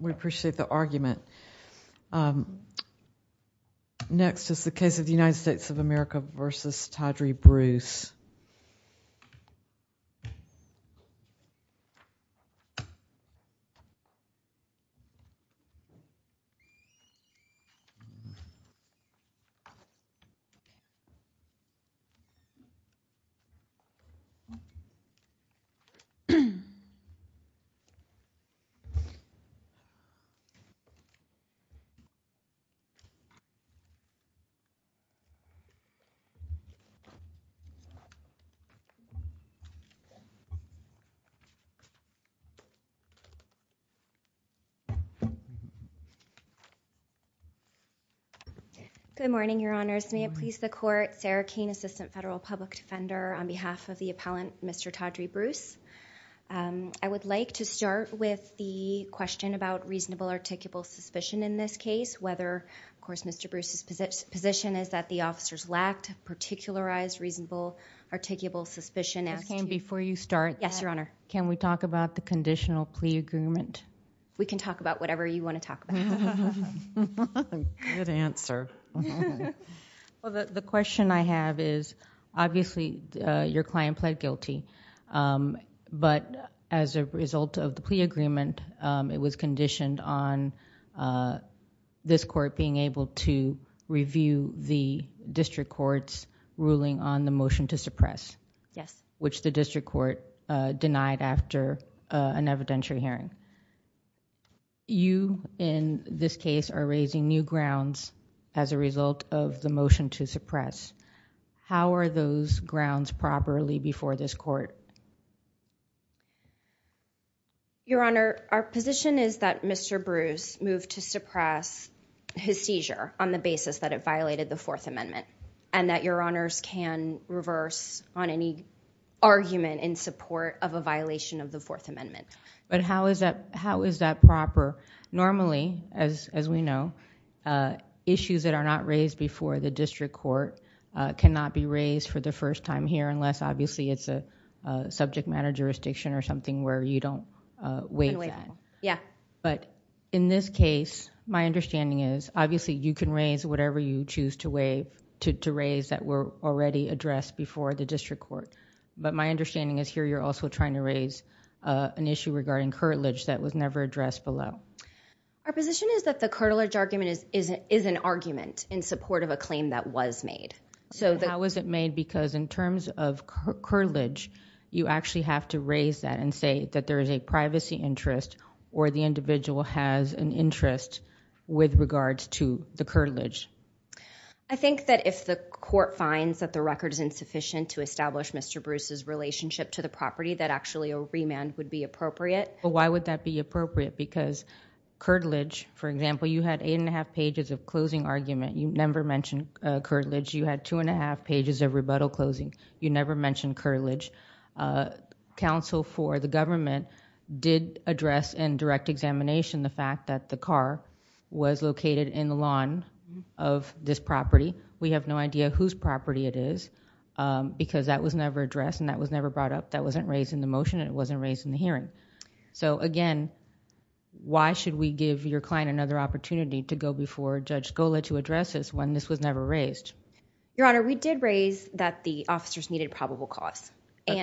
We appreciate the argument. Next is the case of United States of America v. Toddrey Bruce. Good morning, Your Honours. May it please the Court, Sarah Kane, Assistant Federal Public Defender on behalf of the appellant Mr. Toddrey Bruce. I would like to start with the question about reasonable articulable suspicion in this case, whether, of course, Mr. Bruce's position is that the officers lacked particularized reasonable articulable suspicion as to- Ms. Kane, before you start- Yes, Your Honour. Can we talk about the conditional plea agreement? We can talk about whatever you want to talk about. Good answer. Well, the question I have is, obviously, your client pled guilty, but as a result of the plea agreement, it was conditioned on this Court being able to review the district court's ruling on the motion to suppress, which the district court denied after an evidentiary hearing. You, in this case, are raising new grounds as a result of the motion to suppress. How are those grounds properly before this Court? Your Honour, our position is that Mr. Bruce moved to suppress his seizure on the basis that it violated the Fourth Amendment, and that Your Honours can reverse on any argument in support of a violation of the Fourth Amendment. But how is that proper? Normally, as we know, issues that are not raised before the district court cannot be raised for the first time here unless, obviously, it's a subject matter jurisdiction or something where you don't waive that. But in this case, my understanding is, obviously, you can raise whatever you choose to raise that were already addressed before the district court. But my understanding is here you're also trying to raise an issue regarding curtilage that was never addressed below. Our position is that the curtilage argument is an argument in support of a claim that was made. How was it made? Because in terms of curtilage, you actually have to raise that and say that there is a privacy interest or the individual has an interest with regards to the curtilage. I think that if the Court finds that the record is insufficient to establish Mr. Bruce's relationship to the property, that actually a remand would be appropriate. Why would that be appropriate? Because curtilage, for example, you had eight and a half pages of closing argument. You never mentioned curtilage. You had two and a half pages of rebuttal closing. You never mentioned curtilage. Counsel for the government did address in direct examination the fact that the car was located in the lawn of this property. We have no idea whose property it is because that was never addressed and that was never brought up. That wasn't raised in the motion and it wasn't raised in the hearing. Again, why should we give your client another opportunity to go before Judge Scola to address this when this was never raised? Your Honor, we did raise that the officers needed probable cause.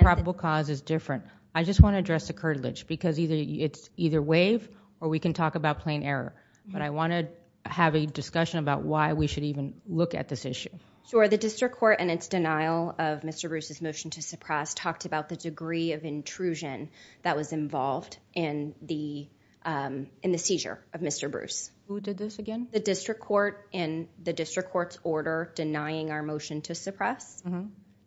Probable cause is different. I just want to address the curtilage because it's either waive or we can talk about plain error. I want to have a discussion about why we should even look at this issue. Sure. The District Court in its denial of intrusion that was involved in the seizure of Mr. Bruce. Who did this again? The District Court in the District Court's order denying our motion to suppress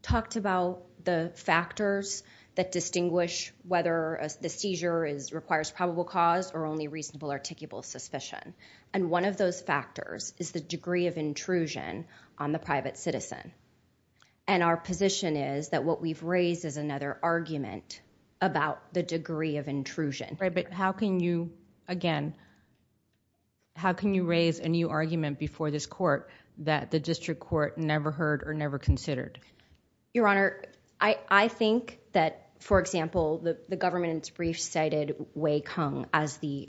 talked about the factors that distinguish whether the seizure requires probable cause or only reasonable articulable suspicion. One of those factors is the degree of intrusion on the private citizen. Our position is that what the District Court did was not to make a judgment about the degree of intrusion. How can you raise a new argument before this court that the District Court never heard or never considered? Your Honor, I think that, for example, the government brief cited Wei Kung as the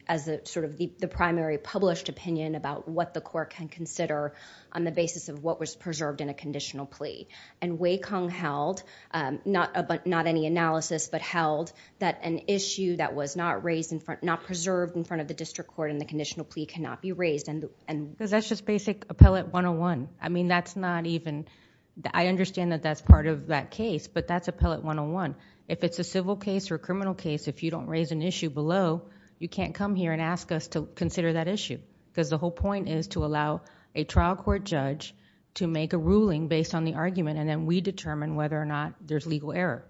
primary published opinion about what the court can consider on the basis of what was preserved in a conditional plea. Wei Kung held not any analysis but held that an issue that was not preserved in front of the District Court in the conditional plea cannot be raised. That's just basic Appellate 101. I understand that that's part of that case, but that's Appellate 101. If it's a civil case or a criminal case, if you don't raise an issue below, you can't come here and ask us to consider that issue because the whole point is to allow a trial court judge to make a ruling based on the argument, and then we determine whether or not there's legal error.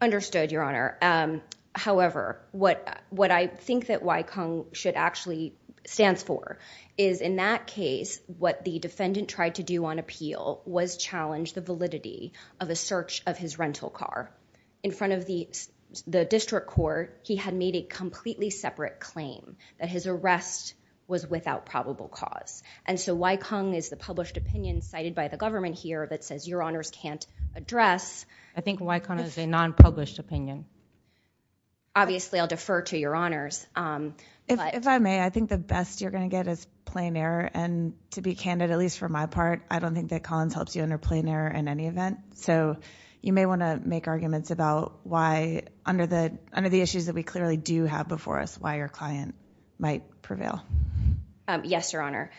Understood, Your Honor. However, what I think that Wei Kung should actually stand for is in that case, what the defendant tried to do on appeal was challenge the validity of a search of his rental car. In front of the District Court, he had made a completely separate claim that his arrest was without probable cause. Wei Kung is the published opinion cited by the government here that says Your Honors can't address. I think Wei Kung is a non-published opinion. Obviously, I'll defer to Your Honors. If I may, I think the best you're going to get is plain error. To be candid, at least for my part, I don't think that Collins helps you under plain error in any event. You may want to make arguments about why, under the issues that we clearly do have before us, why your client might prevail. Yes, Your Honor.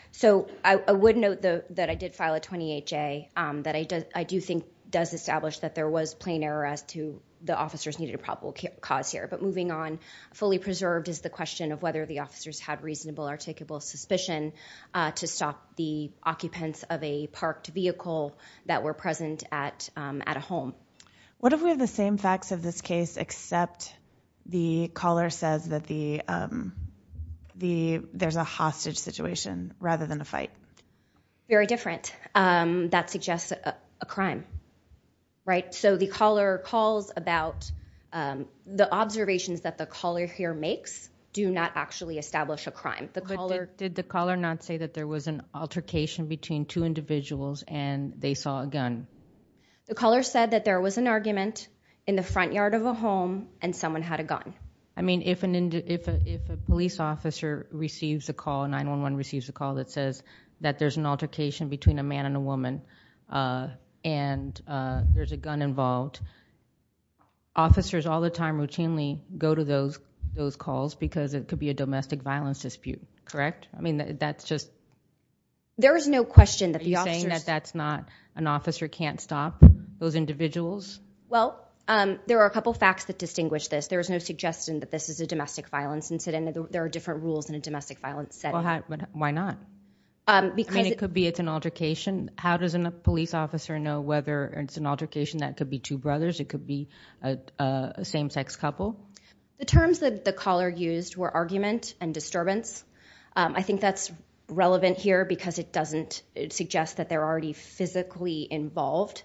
I would note that I did file a 28-J, that I do think does establish that there was plain error as to the officers needed a probable cause here. Moving on, fully preserved is the question of whether the officers had reasonable or takeable suspicion to stop the occupants of a parked vehicle that were present at a home. What if we have the same facts of this case except the caller says that there's a hostage situation rather than a fight? Very different. That suggests a crime. The caller calls about the observations that the caller here makes do not actually establish a crime. Did the caller not say that there was an altercation between two individuals and they saw a gun? The caller said that there was an argument in the front yard of a home and someone had a gun. I mean, if a police officer receives a call, 911 receives a call that says that there's an altercation between a man and a woman and there's a gun involved, officers all the time routinely go to those calls because it could be a domestic violence dispute, correct? I mean, that's just... There is no question that the officers... Are you saying that that's not an officer can't stop those individuals? Well, there are a couple facts that distinguish this. There is no suggestion that this is a domestic violence incident. There are different rules in a domestic violence setting. Why not? I mean, it could be it's an altercation. How does a police officer know whether it's an altercation that could be two brothers, it could be a same-sex couple? The terms that the caller used were argument and disturbance. I think that's relevant here because it doesn't suggest that they're already physically involved.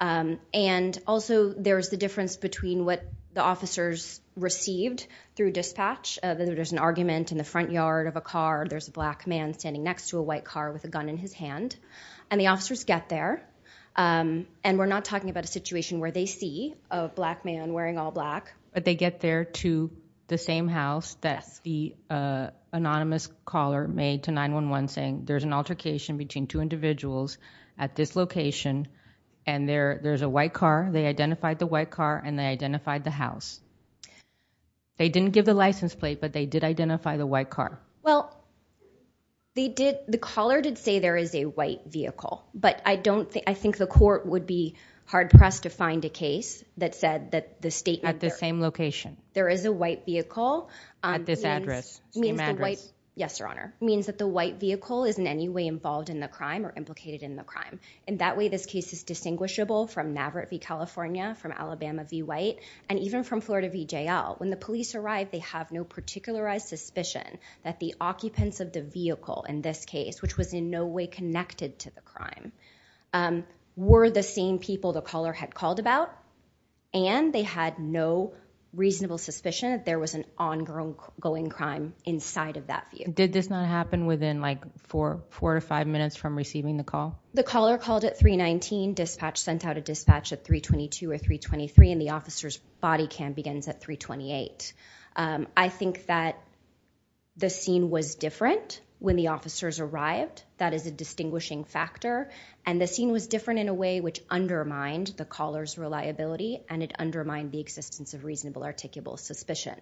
And also, there's the difference between what the officers received through dispatch, whether there's an argument in the front yard of a car, there's a black man standing next to a white car with a gun in his hand, and the officers get there. And we're not talking about a situation where they see a black man wearing all black. But they get there to the same house that the anonymous caller made to 911 saying there's an altercation between two individuals at this location, and there's a white car. They identified the white car, and they identified the house. They didn't give the license plate, but they did identify the white car. Well, the caller did say there is a white vehicle, but I think the court would be hard-pressed to find a case that said that the statement... At the same location. There is a white vehicle. At this address. Same address. Yes, Your Honor. It means that the white vehicle is in any way involved in the crime or implicated in the crime. In that way, this case is distinguishable from Maverick v. California, from Alabama v. White, and even from Florida v. JL. When the police arrived, they have no particularized suspicion that the occupants of the vehicle in this case, which was in no way connected to the crime, were the same people the caller had called about, and they had no reasonable suspicion that there was an ongoing crime inside of that vehicle. Did this not happen within, like, four to five minutes from receiving the call? The caller called at 319. Dispatch sent out a dispatch at 322 or 323, and the officer's body cam begins at 328. I think that the scene was different when the officers arrived. That is a distinguishing factor, and the scene was different in a way which undermined the reasonable, articulable suspicion.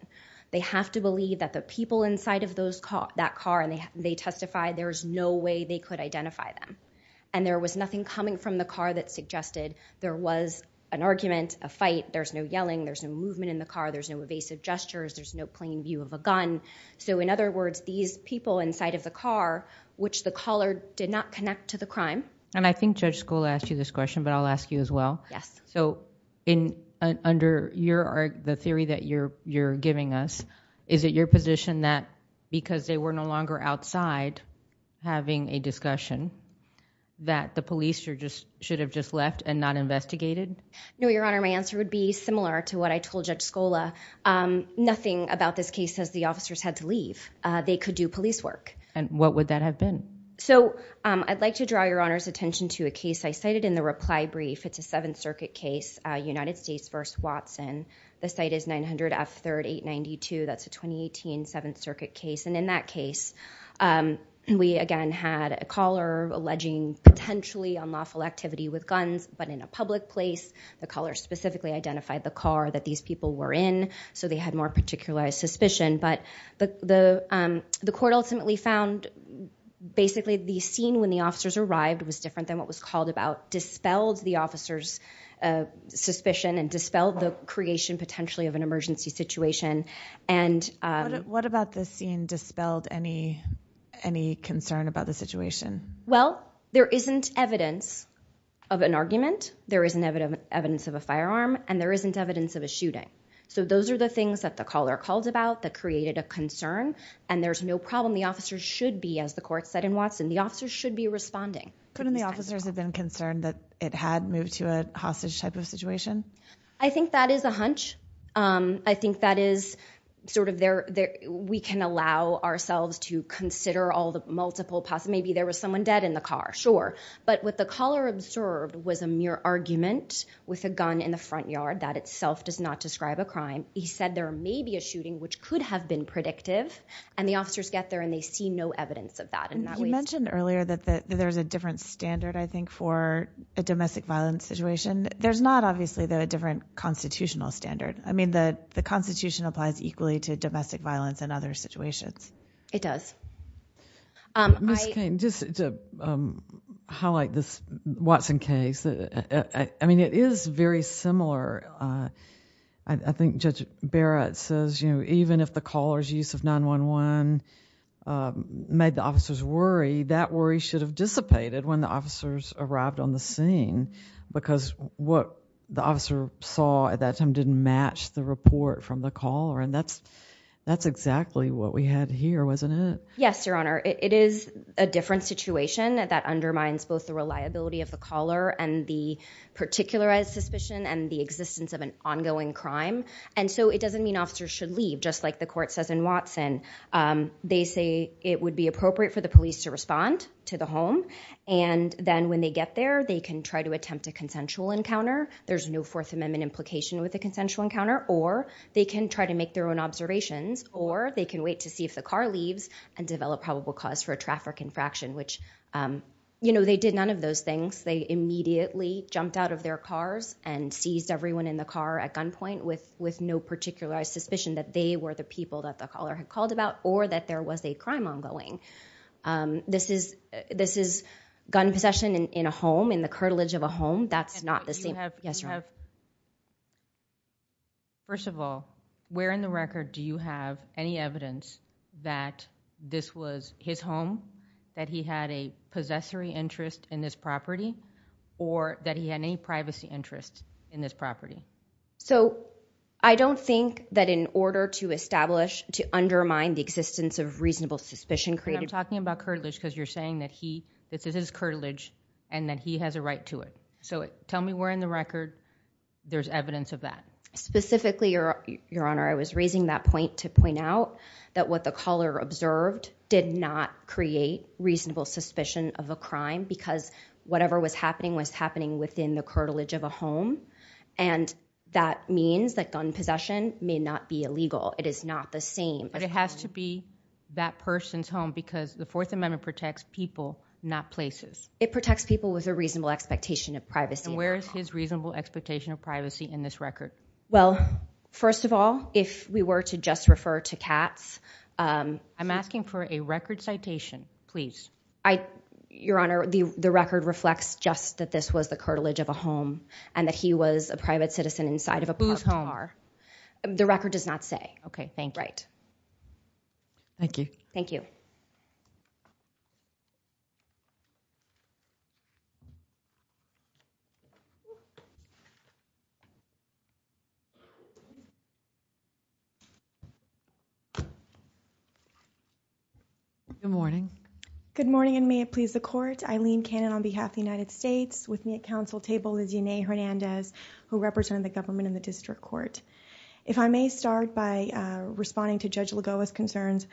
They have to believe that the people inside of that car, and they testified there was no way they could identify them, and there was nothing coming from the car that suggested there was an argument, a fight, there's no yelling, there's no movement in the car, there's no evasive gestures, there's no plain view of a gun. So, in other words, these people inside of the car, which the caller did not connect to the crime. And I think Judge Skoll asked you this question, but I'll ask you as well. So, under the theory that you're giving us, is it your position that because they were no longer outside having a discussion, that the police should have just left and not investigated? No, Your Honor, my answer would be similar to what I told Judge Skoll. Nothing about this case says the officers had to leave. They could do police work. And what would that have been? So, I'd like to draw Your Honor's attention to a case I cited in the reply brief. It's a Seventh Circuit case, United States v. Watson. The site is 900 F. 3rd, 892. That's a 2018 Seventh Circuit case. And in that case, we again had a caller alleging potentially unlawful activity with guns, but in a public place. The caller specifically identified the car that these people were in, so they had more particular suspicion. But the court ultimately found basically the scene when the officers arrived was different than what was called about, dispelled the officer's suspicion, and dispelled the creation potentially of an emergency situation. What about the scene dispelled any concern about the situation? Well, there isn't evidence of an argument, there isn't evidence of a firearm, and there isn't evidence of a shooting. So, those are the things that the caller called about that created a concern, and there's no problem the officers should be, as the court said in Watson, the officers should be responding. Couldn't the officers have been concerned that it had moved to a hostage type of situation? I think that is a hunch. I think that is sort of their, we can allow ourselves to consider all the multiple, maybe there was someone dead in the car, sure. But what the caller observed was a mere argument with a gun in the front yard. That itself does not describe a crime. He said there may be a shooting, which could have been predictive, and the see no evidence of that in that way. You mentioned earlier that there's a different standard, I think, for a domestic violence situation. There's not, obviously, though, a different constitutional standard. I mean, the Constitution applies equally to domestic violence and other situations. It does. Ms. Cain, just to highlight this Watson case, I mean, it is very similar. I think Judge Barrett says, you know, even if the caller's use of 911 made the officers worry, that worry should have dissipated when the officers arrived on the scene, because what the officer saw at that time didn't match the report from the caller. And that's exactly what we had here, wasn't it? Yes, Your Honor. It is a different situation that undermines both the reliability of the doesn't mean officers should leave, just like the court says in Watson. They say it would be appropriate for the police to respond to the home, and then when they get there, they can try to attempt a consensual encounter. There's no Fourth Amendment implication with a consensual encounter, or they can try to make their own observations, or they can wait to see if the car leaves and develop probable cause for a traffic infraction, which, you know, they did none of those things. They immediately jumped out of their cars and seized everyone in the car at gunpoint with no particular suspicion that they were the people that the caller had called about, or that there was a crime ongoing. This is gun possession in a home, in the curtilage of a home. That's not the same. And you have, first of all, where in the record do you have any evidence that this was his home, that he had a possessory interest in this property, or that he had any privacy interest in this property? So, I don't think that in order to establish, to undermine the existence of reasonable suspicion created... But I'm talking about curtilage, because you're saying that he, this is his curtilage, and that he has a right to it. So, tell me where in the record there's evidence of that. Specifically, Your Honor, I was raising that point to point out that what the caller observed did not create reasonable suspicion of a crime, because whatever was happening was happening within the curtilage of a home, and that means that gun possession may not be illegal. It is not the same. But it has to be that person's home, because the Fourth Amendment protects people, not places. It protects people with a reasonable expectation of privacy. And where is his reasonable expectation of privacy in this record? Well, first of all, if we were to just refer to Katz... I'm asking for a record citation, please. I... Your Honor, the record reflects just that this was the curtilage of a home, and that he was a private citizen inside of a parked car. Whose home? The record does not say. Okay, thank you. Right. Thank you. Thank you. Good morning. Good morning, and may it please the Court, Eileen Cannon on behalf of the United States, with me at counsel table is Yenay Hernandez, who represented the government in the district court. If I may start by responding to Judge Lagoa's concerns,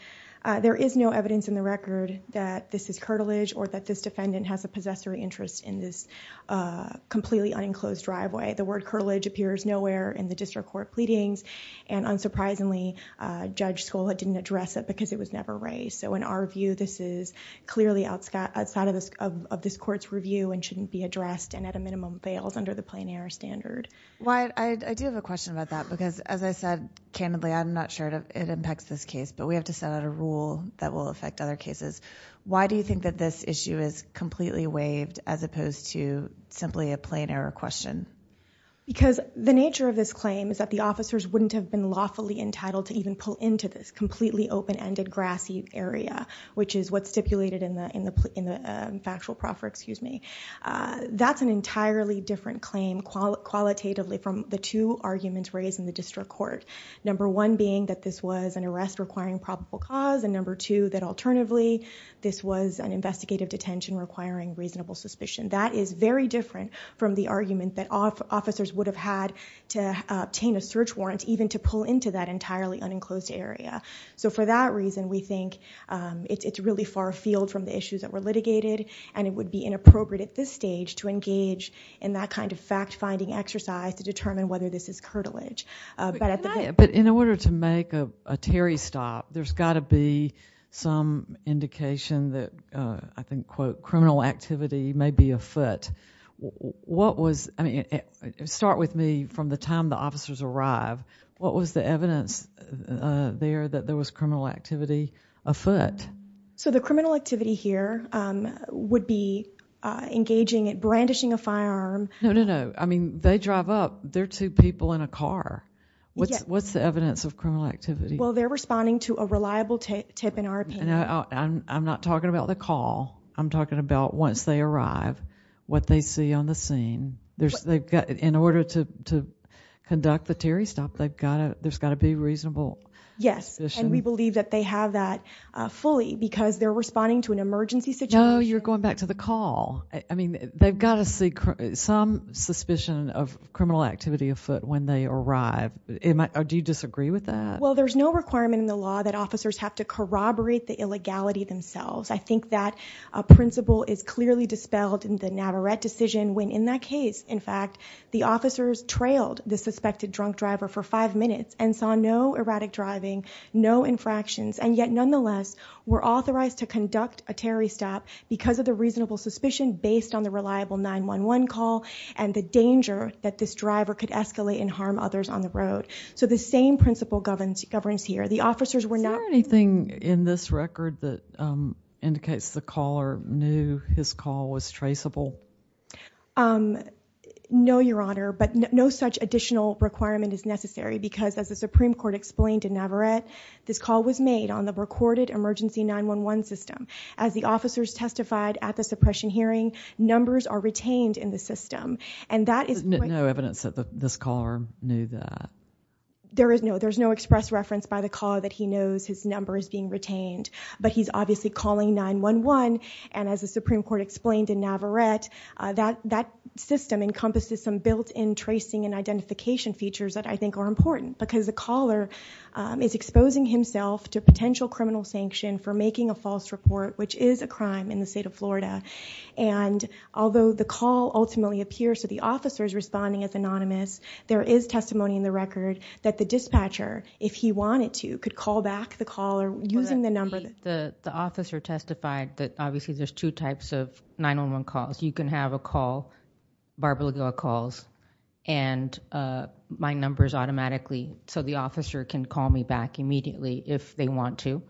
there is no evidence in the record that this is curtilage, or that this defendant has a possessory interest in this completely unenclosed driveway. The word curtilage appears nowhere in the district court pleadings, and unsurprisingly, Judge Scola didn't address it, because it was never raised. So in our view, this is clearly outside of this court's review, and shouldn't be addressed, and at a minimum, fails under the plain error standard. I do have a question about that, because as I said, candidly, I'm not sure it impacts this case, but we have to set out a rule that will affect other cases. Why do you think that this issue is completely waived, as opposed to simply a plain error question? Because the nature of this claim is that the officers wouldn't have been lawfully entitled to even pull into this completely open-ended, grassy area, which is what's stipulated in the factual proffer, excuse me. That's an entirely different claim, qualitatively, from the two arguments raised in the district court. Number one being that this was an arrest requiring probable cause, and number two, that alternatively, this was an investigative detention requiring reasonable suspicion. That is very different from the argument that officers would have had to obtain a search warrant, even to pull into that entirely unenclosed area. For that reason, we think it's really far afield from the issues that were litigated, and it would be inappropriate at this stage to engage in that kind of fact-finding exercise to determine whether this is curtilage. In order to make a Terry stop, there's got to be some indication that, I think, quote, criminal activity may be afoot. What was, I mean, start with me from the time the officers arrived. What was the evidence there that there was criminal activity afoot? So the criminal activity here would be engaging in brandishing a firearm. No, no, no. I mean, they drive up. They're two people in a car. What's the evidence of criminal activity? Well, they're responding to a reliable tip, in our opinion. I'm not talking about the call. I'm talking about once they arrive, what they see on the scene. In order to conduct the Terry stop, there's got to be reasonable suspicion. Yes, and we believe that they have that fully because they're responding to an emergency situation. No, you're going back to the call. I mean, they've got to see some suspicion of criminal activity afoot when they arrive. Do you disagree with that? Well, there's no requirement in the law that officers have to corroborate the illegality themselves. I think that principle is clearly dispelled in the Navarette decision when, in that case, in fact, the officers trailed the suspected drunk driver for five minutes and saw no erratic driving, no infractions, and yet, nonetheless, were authorized to conduct a Terry stop because of the reasonable suspicion based on the reliable 911 call and the danger that this driver could escalate and harm others on the road. So the same principle governs here. Is there anything in this record that indicates the caller knew his call was traceable? No, Your Honor, but no such additional requirement is necessary because, as the Supreme Court explained in Navarette, this call was made on the recorded emergency 911 system. As the officers testified at the suppression hearing, numbers are retained in the system. There's no evidence that this caller knew that? There is no. There is no express reference by the caller that he knows his number is being retained, but he's obviously calling 911, and as the Supreme Court explained in Navarette, that system encompasses some built-in tracing and identification features that I think are important because the caller is exposing himself to potential criminal sanction for making a false report, which is a crime in the state of Florida, and although the call ultimately appears to the officer's responding as anonymous, there is testimony in the record that the dispatcher, if he wanted to, could call back the caller using the number. The officer testified that obviously there's two types of 911 calls. You can have a call, Barbara Lagoa calls, and my number is automatically, so the officer can call me back immediately if they want to,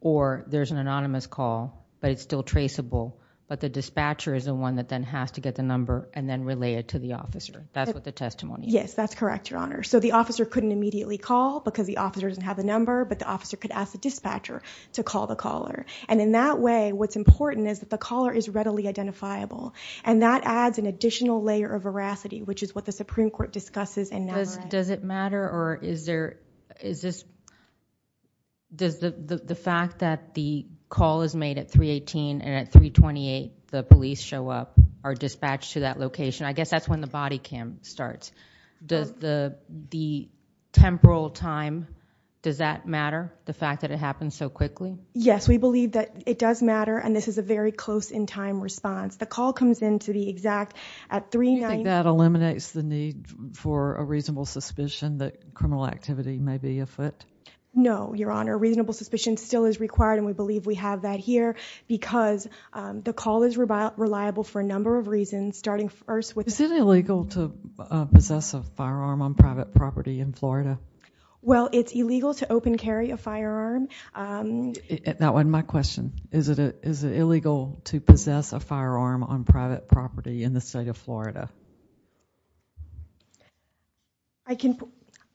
or there's an anonymous call, but it's still traceable, but the dispatcher is the one that then has to get the number and then relay it to the officer. That's what the testimony is. Yes, that's correct, Your Honor. So the officer couldn't immediately call because the officer doesn't have the number, but the officer could ask the dispatcher to call the caller, and in that way, what's important is that the caller is readily identifiable, and that adds an additional layer of veracity, which is what the Supreme Court discusses in Navarette. Does it matter, or is there, is this, does the fact that the call is made at 318 and at 328, the police show up, are dispatched to that location? I guess that's when the body cam starts. Does the temporal time, does that matter, the fact that it happens so quickly? Yes, we believe that it does matter, and this is a very close in time response. The call comes in to the exact, at 390- Do you think that eliminates the need for a reasonable suspicion that criminal activity may be afoot? No, Your Honor. Reasonable suspicion still is required, and we believe we have that here because the call is reliable for a number of reasons, starting first with- Is it illegal to possess a firearm on private property in Florida? Well, it's illegal to open carry a firearm- That wasn't my question. Is it illegal to possess a firearm on private property in the state of Florida?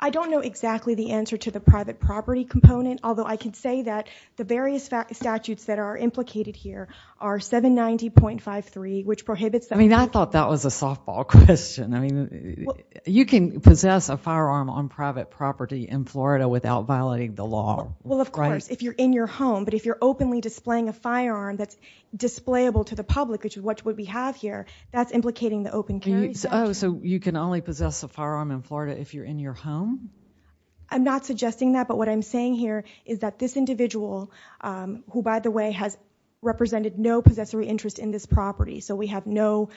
I don't know exactly the answer to the private property component, although I can say that the various statutes that are implicated here are 790.53, which prohibits them- I mean, I thought that was a softball question. I mean, you can possess a firearm on private property in Florida without violating the law, right? Well, of course, if you're in your home, but if you're openly displaying a firearm that's displayable to the public, which is what we have here, that's implicating the open carry statute. Oh, so you can only possess a firearm in Florida if you're in your home? I'm not suggesting that, but what I'm saying here is that this individual, who by the way has represented no possessory interest in this property, so we have no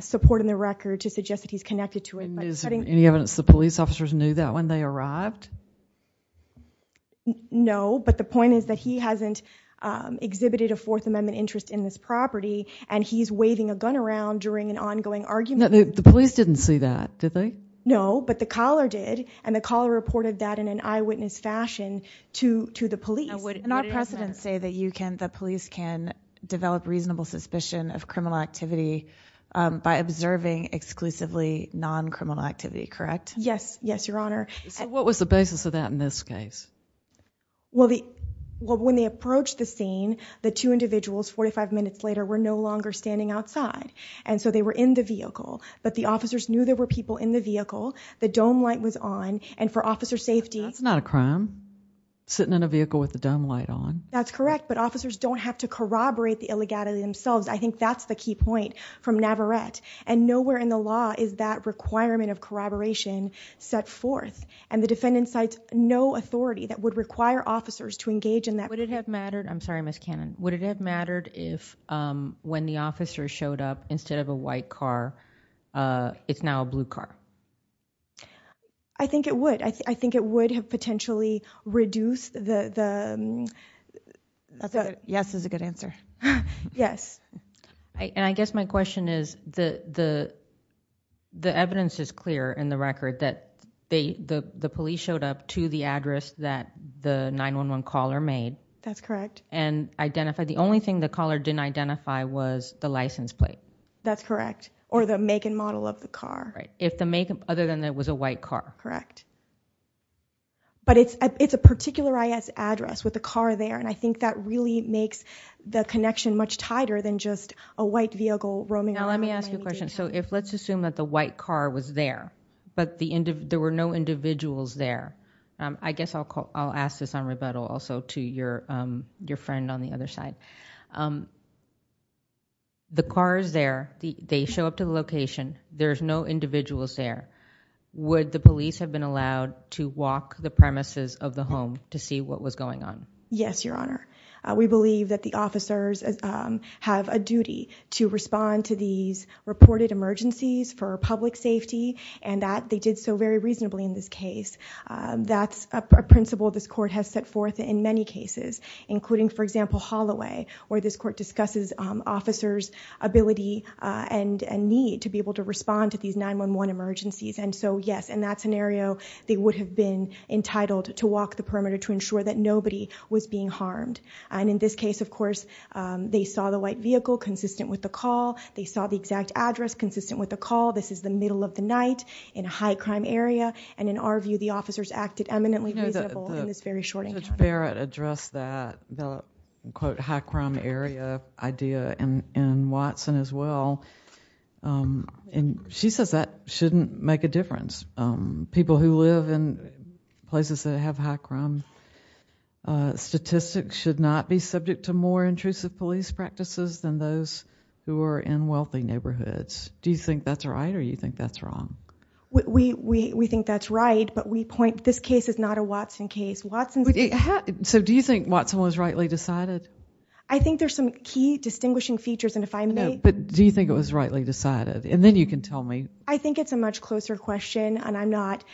support in the record to suggest that he's connected to it, but- Is there any evidence the police officers knew that when they arrived? No, but the point is that he hasn't exhibited a Fourth Amendment interest in this property, and he's waving a gun around during an ongoing argument. The police didn't see that, did they? No, but the caller did, and the caller reported that in an eyewitness fashion to the police. And our precedents say that the police can develop reasonable suspicion of criminal activity by observing exclusively non-criminal activity, correct? Yes, yes, Your Honor. So what was the basis of that in this case? Well, when they approached the scene, the two individuals 45 minutes later were no longer standing outside, and so they were in the vehicle, but the officers knew there were people in the vehicle, the dome light was on, and for officer safety- That's not a crime, sitting in a vehicle with the dome light on. That's correct, but officers don't have to corroborate the illegality themselves. I think that's the key point from Navarette, and nowhere in the law is that requirement of corroboration set forth, and the defendant cites no authority that would require officers to engage in that. Would it have mattered, I'm sorry Ms. Cannon, would it have mattered if when the officer showed up, instead of a white car, it's now a blue car? I think it would. I think it would have potentially reduced the- Yes is a good answer. Yes. And I guess my question is, the evidence is clear in the record that the police showed up to the address that the 911 caller made- That's correct. And identified, the only thing the caller didn't identify was the license plate. That's correct, or the make and model of the car. If the make, other than it was a white car. Correct. But it's a particular address with the car there, and I think that really makes the connection much tighter than just a white vehicle roaming around- Now let me ask you a question, so let's assume that the white car was there, but there were no individuals there. I guess I'll ask this on rebuttal also to your friend on the other side. The car is there, they show up to the location, there's no individuals there. Would the police have been allowed to walk the premises of the home to see what was going on? Yes, Your Honor. We believe that the officers have a duty to respond to these reported emergencies for public safety, and that they did so very reasonably in this case. That's a principle this court has set forth in many cases, including, for example, Holloway, where this court discusses officers' ability and need to be able to respond to these 911 emergencies. And so, yes, in that scenario, they would have been entitled to walk the perimeter to ensure that nobody was being harmed. And in this case, of course, they saw the white vehicle consistent with the call. They saw the exact address consistent with the call. This is the middle of the night in a high-crime area, and in our view, the officers acted eminently reasonable in this very short encounter. You know, Judge Barrett addressed that, the, quote, high-crime area idea in Watson as well. And she says that shouldn't make a difference. People who live in places that have high-crime statistics should not be subject to more intrusive police practices than those who are in wealthy neighborhoods. Do you think that's right, or do you think that's wrong? We think that's right, but we point, this case is not a Watson case. Watson's case... So do you think Watson was rightly decided? I think there's some key distinguishing features, and if I may... But do you think it was rightly decided? And then you can tell me. I think it's a much closer question, and I'm not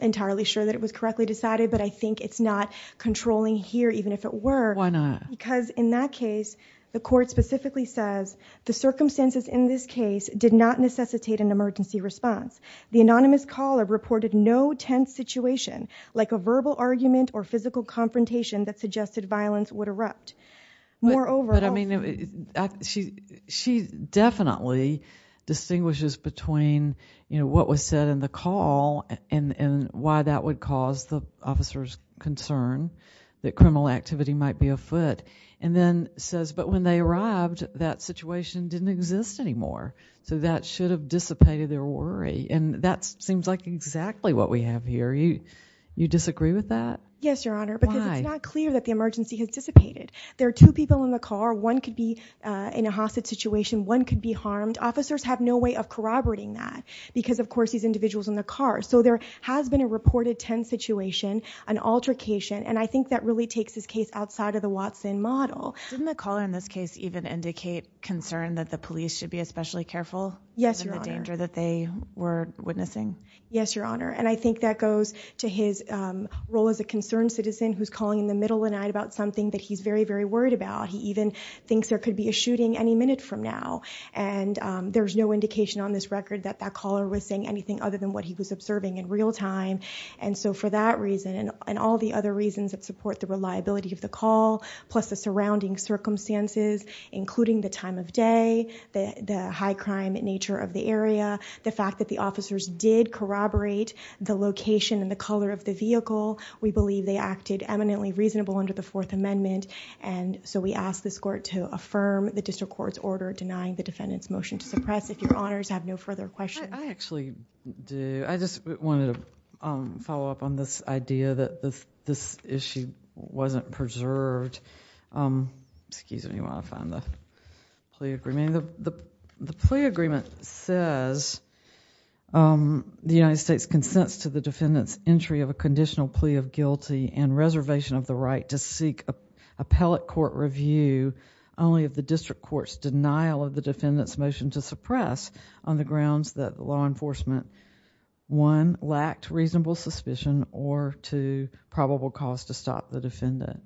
entirely sure that it was correctly decided, but I think it's not controlling here, even if it were. Why not? Because in that case, the court specifically says, the circumstances in this case did not necessitate an emergency response. The anonymous caller reported no tense situation, like a verbal argument or physical confrontation that suggested violence would erupt. Moreover... But I mean, she definitely distinguishes between, you know, what was said in the call and why that would cause the officer's concern that criminal activity might be afoot. And then says, but when they arrived, that situation didn't exist anymore, so that should have dissipated their worry, and that seems like exactly what we have here. You disagree with that? Yes, Your Honor. Why? Because it's not clear that the emergency has dissipated. There are two people in the car. One could be in a hostage situation. One could be harmed. Officers have no way of corroborating that because, of course, these individuals in the car. So there has been a reported tense situation, an altercation, and I think that really takes this case outside of the Watson model. Didn't the caller in this case even indicate concern that the police should be especially Yes, Your Honor. In the danger that they were witnessing? Yes, Your Honor, and I think that goes to his role as a concerned citizen who's calling in the middle of the night about something that he's very, very worried about. He even thinks there could be a shooting any minute from now, and there's no indication on this record that that caller was saying anything other than what he was observing in real time, and so for that reason and all the other reasons that support the reliability of the call, plus the surrounding circumstances, including the time of day, the high crime nature of the area, the fact that the officers did corroborate the location and the color of the vehicle, we believe they acted eminently reasonable under the Fourth Amendment, and so we ask this court to affirm the district court's order denying the defendant's motion to suppress. If Your Honors have no further questions... I actually do. I just wanted to follow up on this idea that this issue wasn't preserved. Excuse me while I find the plea agreement. The plea agreement says the United States consents to the defendant's entry of a conditional plea of guilty and reservation of the right to seek appellate court review only if the on the grounds that law enforcement, one, lacked reasonable suspicion, or two, probable cause to stop the defendant.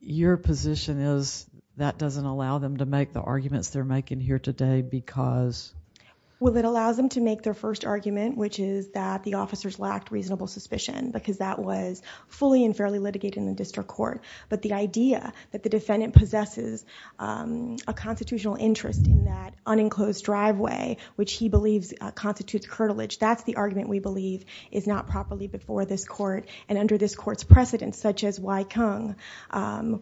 Your position is that doesn't allow them to make the arguments they're making here today because... Well, it allows them to make their first argument, which is that the officers lacked reasonable suspicion because that was fully and fairly litigated in the district court, but the idea that the defendant possesses a constitutional interest in that unenclosed driveway, which he believes constitutes curtilage, that's the argument we believe is not properly before this court, and under this court's precedent, such as Waikang,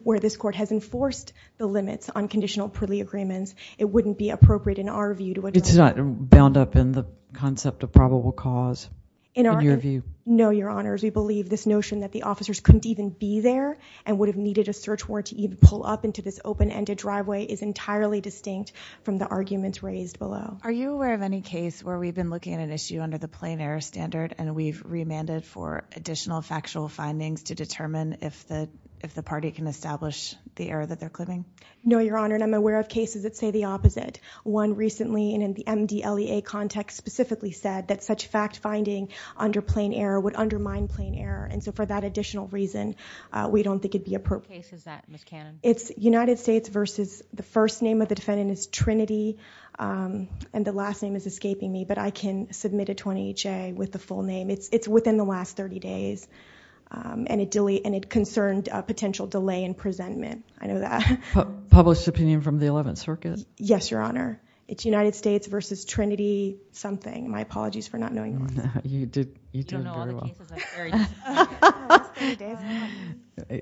where this court has enforced the limits on conditional plea agreements, it wouldn't be appropriate in our view to... It's not bound up in the concept of probable cause in your view? No, Your Honors. We believe this notion that the officers couldn't even be there and would have needed a search warrant to even pull up into this open-ended driveway is entirely distinct from the arguments raised below. Are you aware of any case where we've been looking at an issue under the plain error standard and we've remanded for additional factual findings to determine if the party can establish the error that they're claiming? No, Your Honor, and I'm aware of cases that say the opposite. One recently in the MDLEA context specifically said that such fact-finding under plain error would undermine plain error, and so for that additional reason, we don't think it'd be appropriate. What case is that, Ms. Cannon? It's United States versus... the first name of the defendant is Trinity, and the last name is escaping me, but I can submit a 20HA with the full name. It's within the last thirty days, and it concerned a potential delay in presentment. I know that. Published opinion from the Eleventh Circuit? Yes, Your Honor. It's United States versus Trinity something. My apologies for not knowing that. You don't know all the cases that vary.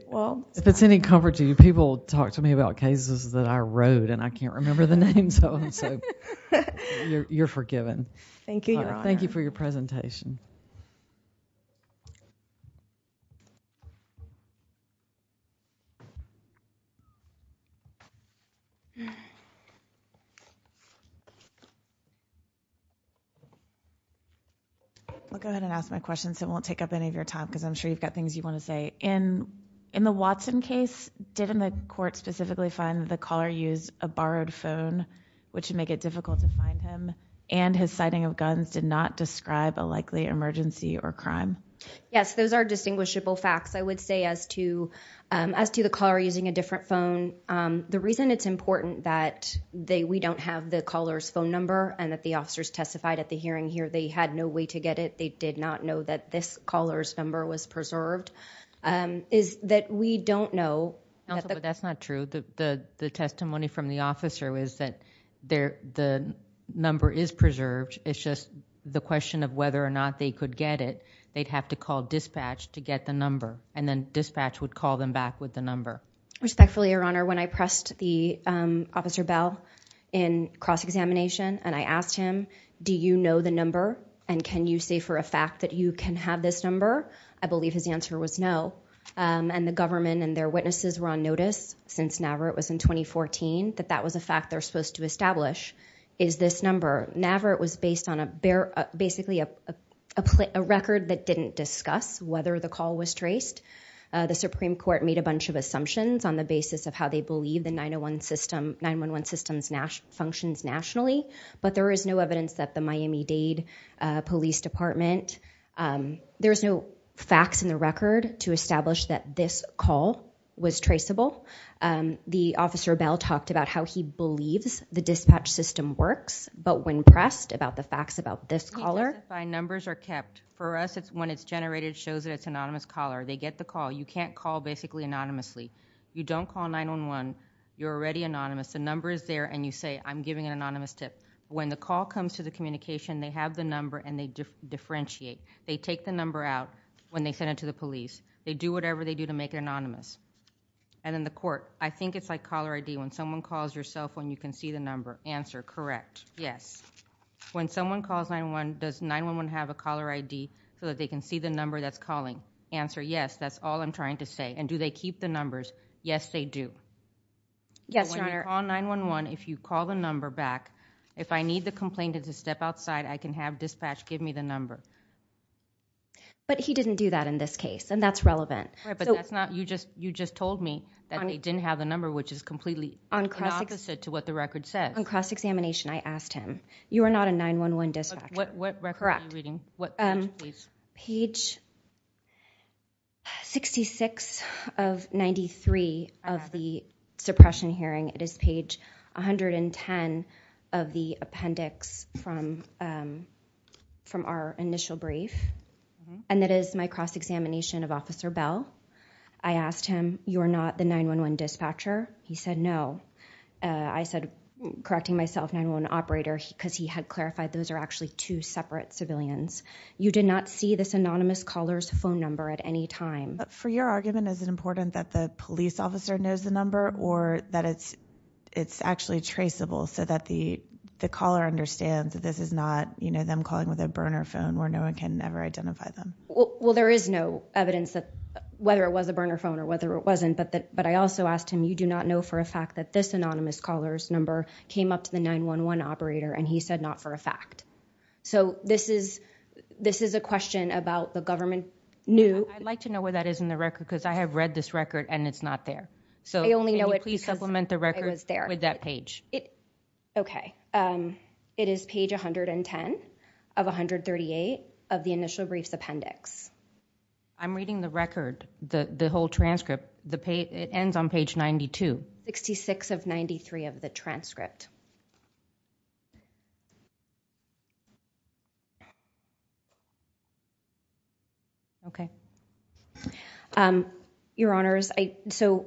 If it's any comfort to you, people talk to me about cases that I wrote and I can't remember the names of them, so you're forgiven. Thank you, Your Honor. Thank you for your presentation. I'll go ahead and ask my question, so it won't take up any of your time, because I'm sure you've got things you want to say. In the Watson case, didn't the court specifically find that the caller used a borrowed phone, which would make it difficult to find him, and his sighting of guns did not describe a likely emergency or crime? Yes, those are distinguishable facts. I would say as to the caller using a different phone, the reason it's important that we don't have the caller's phone number and that the officers testified at the hearing here they had no way to get it, they did not know that this caller's number was preserved, is that we don't know... Counsel, but that's not true. The testimony from the officer was that the number is preserved, it's just the question of whether or not they could get it, they'd have to call dispatch to get the number, and then dispatch would call them back with the number. Respectfully, Your Honor, when I pressed the Officer Bell in cross-examination and I asked him, do you know the number and can you say for a fact that you can have this number, I believe his answer was no, and the government and their witnesses were on notice since NAVIRT was in 2014, that that was a fact they're supposed to establish, is this number. NAVIRT was based on basically a record that didn't discuss whether the call was traced. The Supreme Court made a bunch of assumptions on the basis of how they believe the 911 system functions nationally, but there is no evidence that the Miami-Dade Police Department... there's no facts in the record to establish that this call was traceable. The Officer Bell talked about how he believes the dispatch system works, but when pressed about the facts about this caller... We identify numbers are kept. For us, when it's generated, it shows that it's an anonymous caller. They get the call. You can't call basically anonymously. You don't call 911, you're already anonymous. The number is there and you say, I'm giving an anonymous tip. When the call comes to the communication, they have the number and they differentiate. They take the number out when they send it to the police. They do whatever they do to make it anonymous. And in the court, I think it's like caller ID. When someone calls your cell phone, you can see the number. Answer, correct, yes. When someone calls 911, does 911 have a caller ID so that they can see the number that's calling? Answer, yes. That's all I'm trying to say. And do they keep the numbers? Yes, they do. Yes, Your Honor. But when you call 911, if you call the number back, if I need the complainant to step outside, I can have dispatch give me the number. But he didn't do that in this case. And that's relevant. Right, but that's not, you just told me that they didn't have the number, which is completely opposite to what the record says. On cross-examination, I asked him. You are not a 911 dispatcher. What record are you reading? Correct. What page, please? Page 66 of 93 of the suppression hearing. It is page 110 of the appendix from our initial brief. And that is my cross-examination of Officer Bell. I asked him, you are not the 911 dispatcher? He said no. I said, correcting myself, 911 operator, because he had clarified those are actually two separate civilians. You did not see this anonymous caller's phone number at any time. For your argument, is it important that the police officer knows the number or that it's actually traceable so that the caller understands that this is not, you know, them calling with a burner phone where no one can ever identify them? Well, there is no evidence that, whether it was a burner phone or whether it wasn't. But I also asked him, you do not know for a fact that this anonymous caller's number came up to the 911 operator? And he said not for a fact. So this is a question about the government knew. I'd like to know where that is in the record, because I have read this record and it's not there. I only know it because I was there. So can you please supplement the record with that page? Okay. It is page 110 of 138 of the initial brief's appendix. I'm reading the record, the whole transcript. It ends on page 92. 66 of 93 of the transcript. Okay. Your Honors, so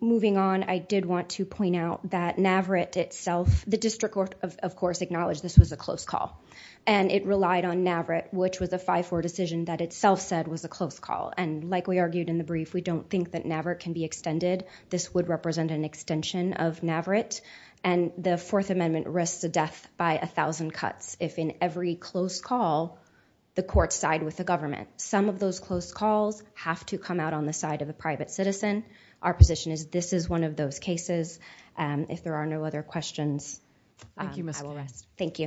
moving on, I did want to point out that NAVRIT itself, the district of course acknowledged this was a close call. And it relied on NAVRIT, which was a 5-4 decision that itself said was a close call. And like we argued in the brief, we don't think that NAVRIT can be extended. This would represent an extension of NAVRIT. And the Fourth Amendment risks a death by 1,000 cuts if in every close call, the courts side with the government. Some of those close calls have to come out on the side of a private citizen. Our position is this is one of those cases. If there are no other questions, I will rest. Thank you.